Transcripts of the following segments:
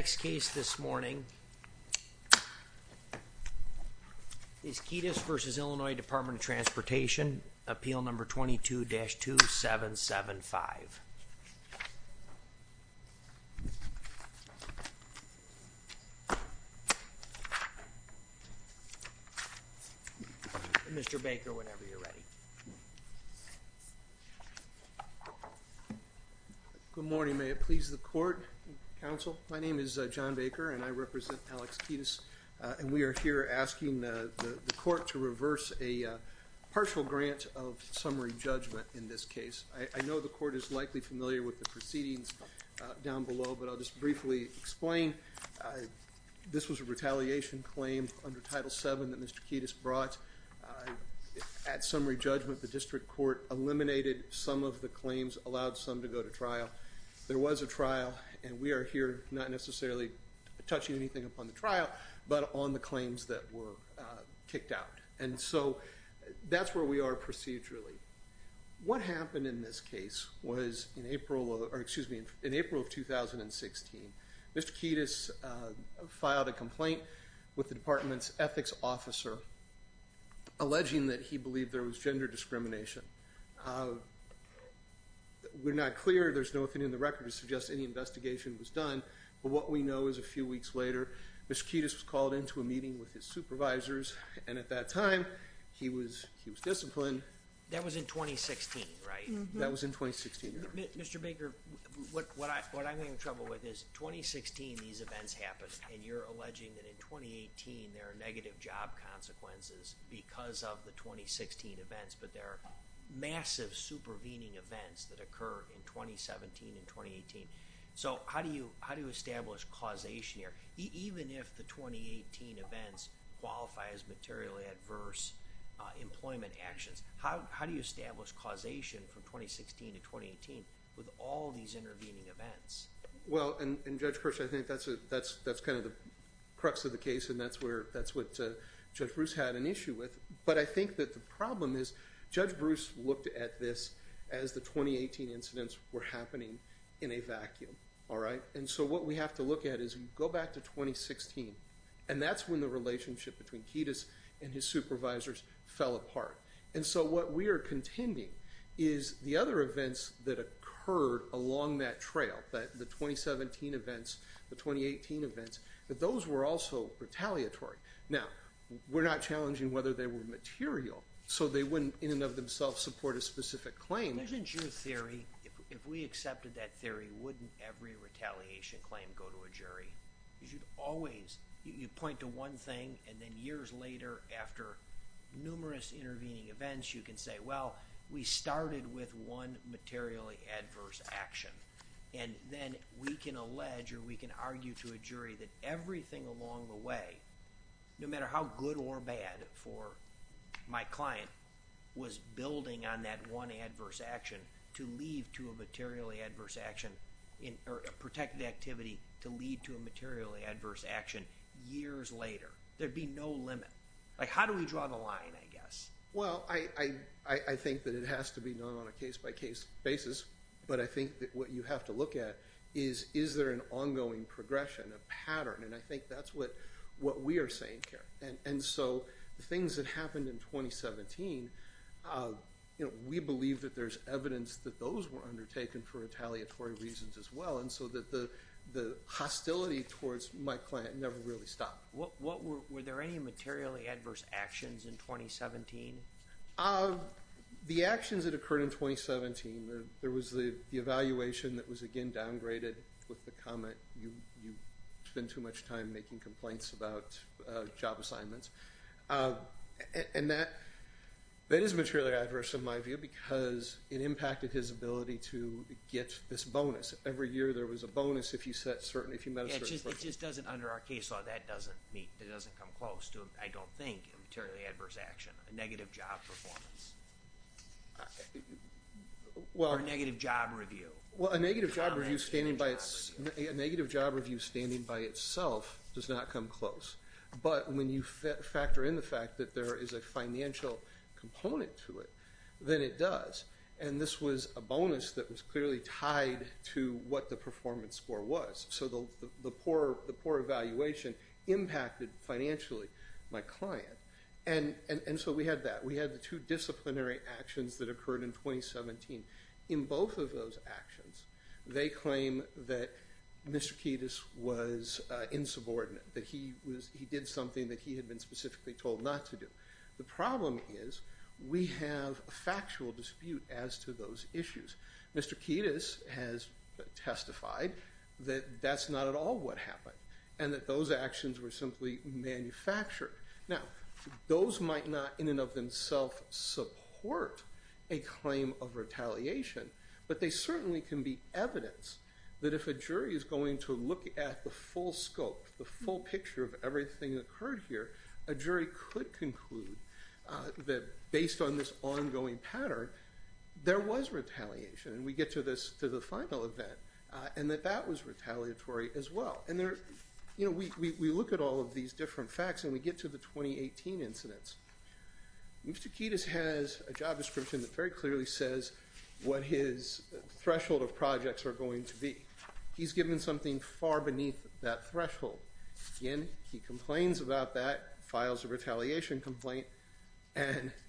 Next case this morning is Kedas v. Illinois Department of Transportation, Appeal No. 22-2775. Mr. Baker, whenever you're ready. Good morning, may it please the court, counsel. My name is John Baker and I represent Alex Kedas. And we are here asking the court to reverse a partial grant of summary judgment in this case. I know the court is likely familiar with the proceedings down below, but I'll just briefly explain. This was a retaliation claim under Title VII that Mr. Kedas brought. At summary judgment, the district court eliminated some of the claims, allowed some to go to trial. There was a trial, and we are here not necessarily touching anything upon the trial, but on the claims that were kicked out. And so that's where we are procedurally. What happened in this case was in April of 2016, Mr. Kedas filed a complaint with the department's ethics officer, alleging that he believed there was gender discrimination. We're not clear, there's nothing in the record to suggest any investigation was done, but what we know is a few weeks later, Mr. Kedas was called into a meeting with his supervisors, and at that time, he was disciplined. That was in 2016, right? That was in 2016, yes. Mr. Baker, what I'm having trouble with is, in 2016 these events happened, and you're alleging that in 2018 there are negative job consequences because of the 2016 events, but there are massive supervening events that occurred in 2017 and 2018. So how do you establish causation here, even if the 2018 events qualify as materially adverse employment actions? How do you establish causation from 2016 to 2018 with all these intervening events? Well, and Judge Kirsch, I think that's kind of the crux of the case, and that's what Judge Bruce had an issue with. But I think that the problem is Judge Bruce looked at this as the 2018 incidents were happening in a vacuum, all right? And so what we have to look at is go back to 2016, and that's when the relationship between Kedas and his supervisors fell apart. And so what we are contending is the other events that occurred along that trail, the 2017 events, the 2018 events, that those were also retaliatory. Now, we're not challenging whether they were material, so they wouldn't in and of themselves support a specific claim. Isn't your theory, if we accepted that theory, wouldn't every retaliation claim go to a jury? You should always, you point to one thing, and then years later, after numerous intervening events, you can say, well, we started with one materially adverse action. And then we can allege or we can argue to a jury that everything along the way, no matter how good or bad for my client, was building on that one adverse action to lead to a materially adverse action or a protected activity to lead to a materially adverse action years later. There'd be no limit. Like, how do we draw the line, I guess? Well, I think that it has to be done on a case-by-case basis. But I think that what you have to look at is, is there an ongoing progression, a pattern? And I think that's what we are saying here. And so the things that happened in 2017, we believe that there's evidence that those were undertaken for retaliatory reasons as well, and so that the hostility towards my client never really stopped. Were there any materially adverse actions in 2017? The actions that occurred in 2017, there was the evaluation that was, again, downgraded with the comment, you spend too much time making complaints about job assignments. And that is materially adverse in my view because it impacted his ability to get this bonus. Every year there was a bonus if you met a certain date. It just doesn't, under our case law, that doesn't come close to, I don't think, a materially adverse action, a negative job performance or a negative job review. Well, a negative job review standing by itself does not come close. But when you factor in the fact that there is a financial component to it, then it does. And this was a bonus that was clearly tied to what the performance score was. So the poor evaluation impacted financially my client. And so we had that. We had the two disciplinary actions that occurred in 2017. In both of those actions, they claim that Mr. Kiedis was insubordinate, that he did something that he had been specifically told not to do. The problem is we have a factual dispute as to those issues. Mr. Kiedis has testified that that's not at all what happened and that those actions were simply manufactured. Now, those might not in and of themselves support a claim of retaliation, but they certainly can be evidence that if a jury is going to look at the full scope, the full picture of everything that occurred here, a jury could conclude that based on this ongoing pattern, there was retaliation. And we get to the final event and that that was retaliatory as well. And we look at all of these different facts and we get to the 2018 incidents. Mr. Kiedis has a job description that very clearly says what his threshold of projects are going to be. He's given something far beneath that threshold. Again, he complains about that, files a retaliation complaint.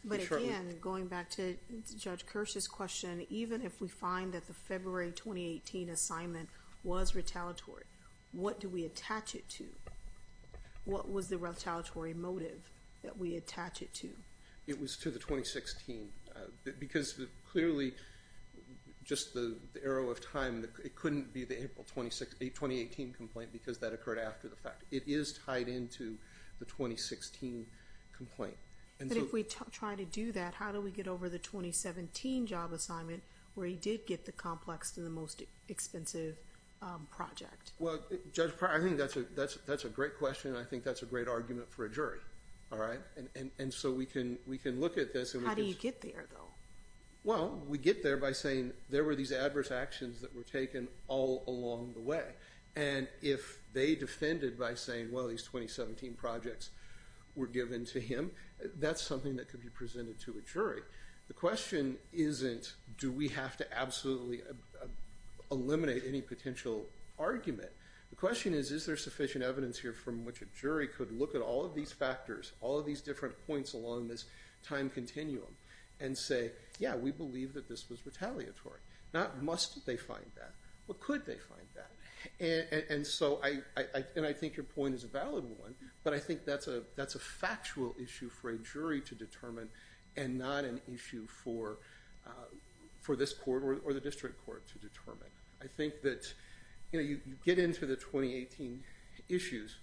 But again, going back to Judge Kirsch's question, even if we find that the February 2018 assignment was retaliatory, what do we attach it to? What was the retaliatory motive that we attach it to? It was to the 2016. Because clearly, just the arrow of time, it couldn't be the April 2018 complaint because that occurred after the fact. It is tied into the 2016 complaint. But if we try to do that, how do we get over the 2017 job assignment where he did get the complex to the most expensive project? Well, Judge, I think that's a great question and I think that's a great argument for a jury. All right. And so we can look at this. How do you get there, though? Well, we get there by saying there were these adverse actions that were taken all along the way. And if they defended by saying, well, these 2017 projects were given to him, that's something that could be presented to a jury. The question isn't do we have to absolutely eliminate any potential argument. The question is, is there sufficient evidence here from which a jury could look at all of these factors, all of these different points along this time continuum and say, yeah, we believe that this was retaliatory. Now, must they find that? Or could they find that? And so I think your point is a valid one, but I think that's a factual issue for a jury to determine and not an issue for this court or the district court to determine. I think that, you know, you get into the 2018 issues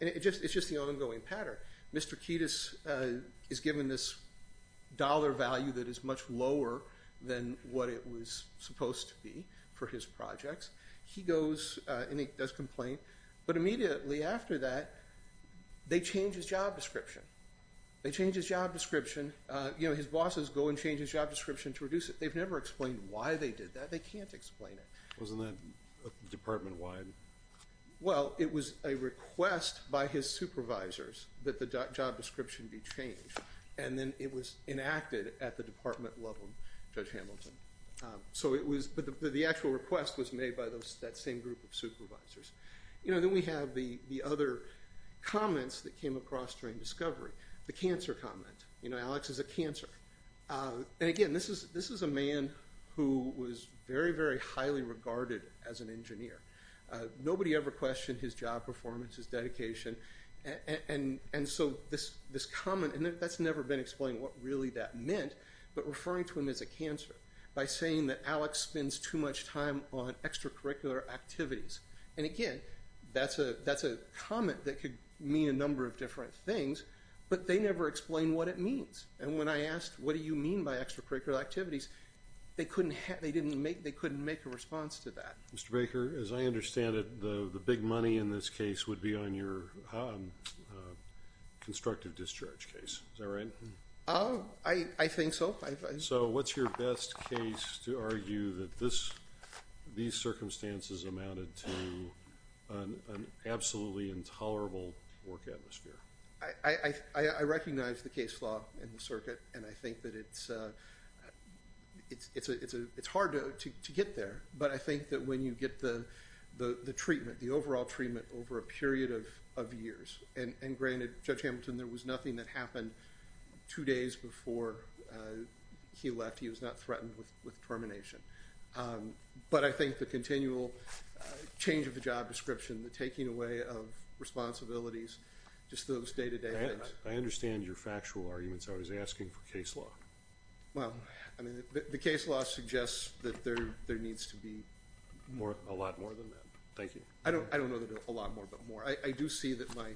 and it's just the ongoing pattern. Mr. Kiedis is given this dollar value that is much lower than what it was supposed to be for his projects. He goes and he does complain, but immediately after that, they change his job description. They change his job description. You know, his bosses go and change his job description to reduce it. They've never explained why they did that. They can't explain it. Wasn't that department-wide? Well, it was a request by his supervisors that the job description be changed, and then it was enacted at the department level, Judge Hamilton. But the actual request was made by that same group of supervisors. You know, then we have the other comments that came across during discovery, the cancer comment. You know, Alex is a cancer. And, again, this is a man who was very, very highly regarded as an engineer. Nobody ever questioned his job performance, his dedication. And so this comment, and that's never been explained what really that meant, but referring to him as a cancer by saying that Alex spends too much time on extracurricular activities. And, again, that's a comment that could mean a number of different things, but they never explain what it means. And when I asked what do you mean by extracurricular activities, they couldn't make a response to that. Mr. Baker, as I understand it, the big money in this case would be on your constructive discharge case. Is that right? I think so. So what's your best case to argue that these circumstances amounted to an absolutely intolerable work atmosphere? I recognize the case law in the circuit, and I think that it's hard to get there. But I think that when you get the treatment, the overall treatment over a period of years, and granted, Judge Hamilton, there was nothing that happened two days before he left. He was not threatened with termination. But I think the continual change of the job description, the taking away of responsibilities, just those day-to-day things. I understand your factual arguments. I was asking for case law. Well, I mean, the case law suggests that there needs to be a lot more than that. Thank you. I don't know that a lot more, but more. I do see that my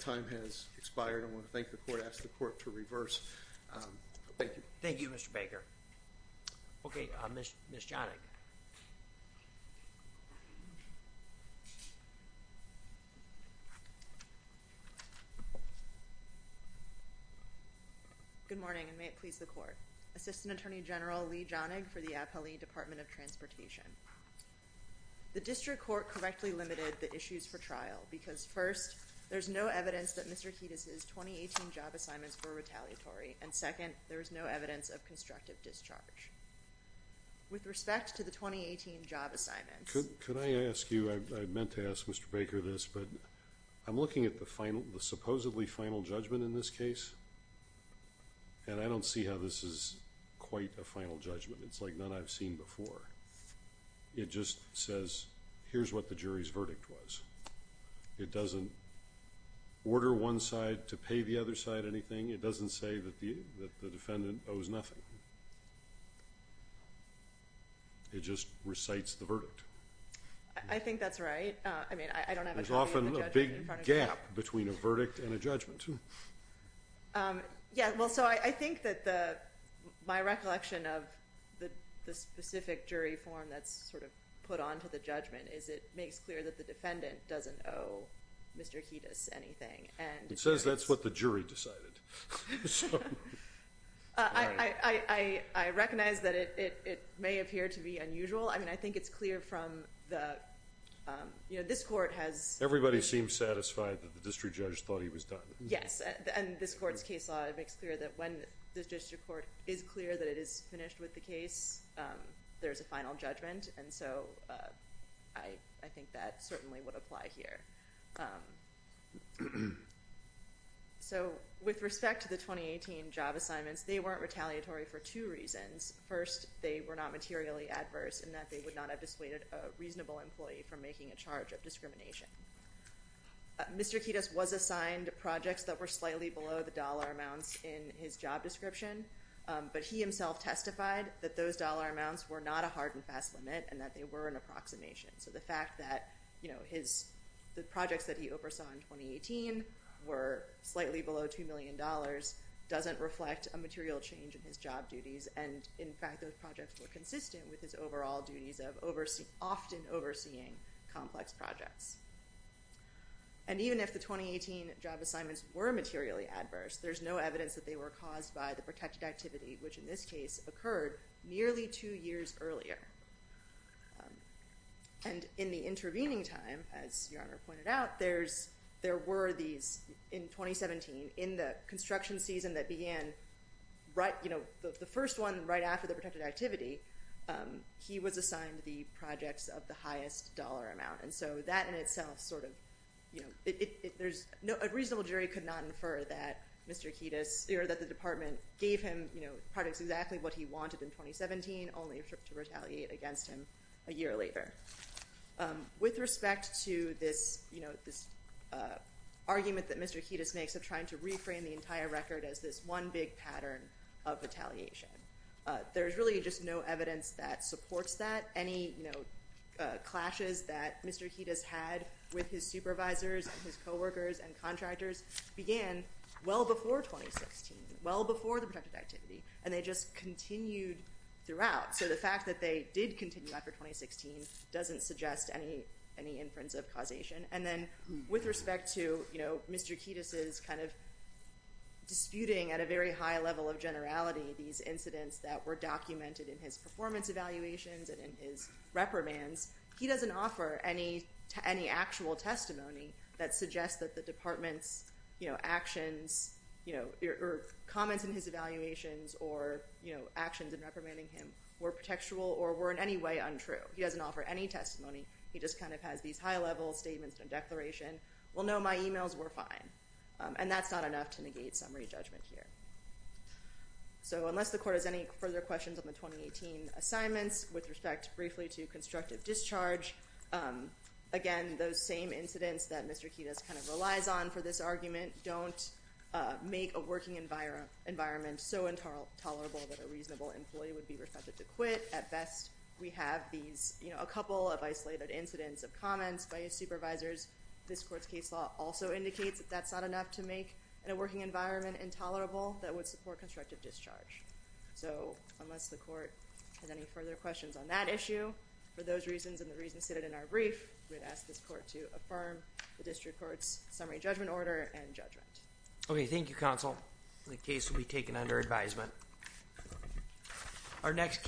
time has expired. I want to thank the court, ask the court to reverse. Thank you. Thank you, Mr. Baker. Okay, Ms. Jonig. Good morning, and may it please the court. Assistant Attorney General Lee Jonig for the Appellee Department of Transportation. The district court correctly limited the issues for trial because, first, there's no evidence that Mr. Kiedis' 2018 job assignments were retaliatory, and, second, there's no evidence of constructive discharge. With respect to the 2018 job assignments. Could I ask you, I meant to ask Mr. Baker this, but I'm looking at the supposedly final judgment in this case, and I don't see how this is quite a final judgment. It's like none I've seen before. It just says, here's what the jury's verdict was. It doesn't order one side to pay the other side anything. It doesn't say that the defendant owes nothing. It just recites the verdict. I think that's right. I mean, I don't have a judgment in front of me. There's often a big gap between a verdict and a judgment. Yeah, well, so I think that my recollection of the specific jury form that's sort of put onto the judgment is it makes clear that the defendant doesn't owe Mr. Kiedis anything. It says that's what the jury decided. I recognize that it may appear to be unusual. I mean, I think it's clear from the, you know, this court has. Everybody seems satisfied that the district judge thought he was done. Yes, and this court's case law makes clear that when the district court is clear that it is finished with the case, there's a final judgment, and so I think that certainly would apply here. So with respect to the 2018 job assignments, they weren't retaliatory for two reasons. First, they were not materially adverse in that they would not have dissuaded a reasonable employee from making a charge of discrimination. Mr. Kiedis was assigned projects that were slightly below the dollar amounts in his job description, but he himself testified that those dollar amounts were not a hard and fast limit and that they were an approximation. So the fact that, you know, his, the projects that he oversaw in 2018 were slightly below $2 million doesn't reflect a material change in his job duties, and in fact those projects were consistent with his overall duties of often overseeing complex projects. And even if the 2018 job assignments were materially adverse, there's no evidence that they were caused by the protected activity, which in this case occurred nearly two years earlier. And in the intervening time, as Your Honor pointed out, there's, there were these in 2017 in the construction season that began right, you know, the first one right after the protected activity, he was assigned the projects of the highest dollar amount. And so that in itself sort of, you know, there's no reasonable jury could not infer that Mr. Kiedis or that the department gave him, you know, projects exactly what he wanted in 2017 only to retaliate against him a year later. With respect to this, you know, this argument that Mr. Kiedis makes of trying to reframe the entire record as this one big pattern of retaliation. There's really just no evidence that supports that any, you know, clashes that Mr. Kiedis had with his supervisors and his coworkers and they just continued throughout. So the fact that they did continue after 2016 doesn't suggest any, any inference of causation. And then with respect to, you know, Mr. Kiedis is kind of disputing at a very high level of generality, these incidents that were documented in his performance evaluations and in his reprimands, he doesn't offer any to any actual testimony that suggests that the department's, you know, actions, you know, comments in his evaluations or, you know, actions in reprimanding him were contextual or were in any way untrue. He doesn't offer any testimony. He just kind of has these high level statements and declaration. Well, no, my emails were fine. And that's not enough to negate summary judgment here. So unless the court has any further questions on the 2018 assignments with respect briefly to constructive discharge, again, those same incidents that Mr. Kiedis kind of relies on for this argument, don't make a working environment environment so intolerable that a reasonable employee would be reflected to quit at best. We have these, you know, a couple of isolated incidents of comments by his supervisors. This court's case law also indicates that that's not enough to make a working environment intolerable that would support constructive discharge. So unless the court has any further questions on that issue, for those reasons and the reasons stated in our brief, we had asked this court to affirm the district court's summary judgment order and judgment. Okay. Thank you. Counsel. The case will be taken under advisement. Our next case.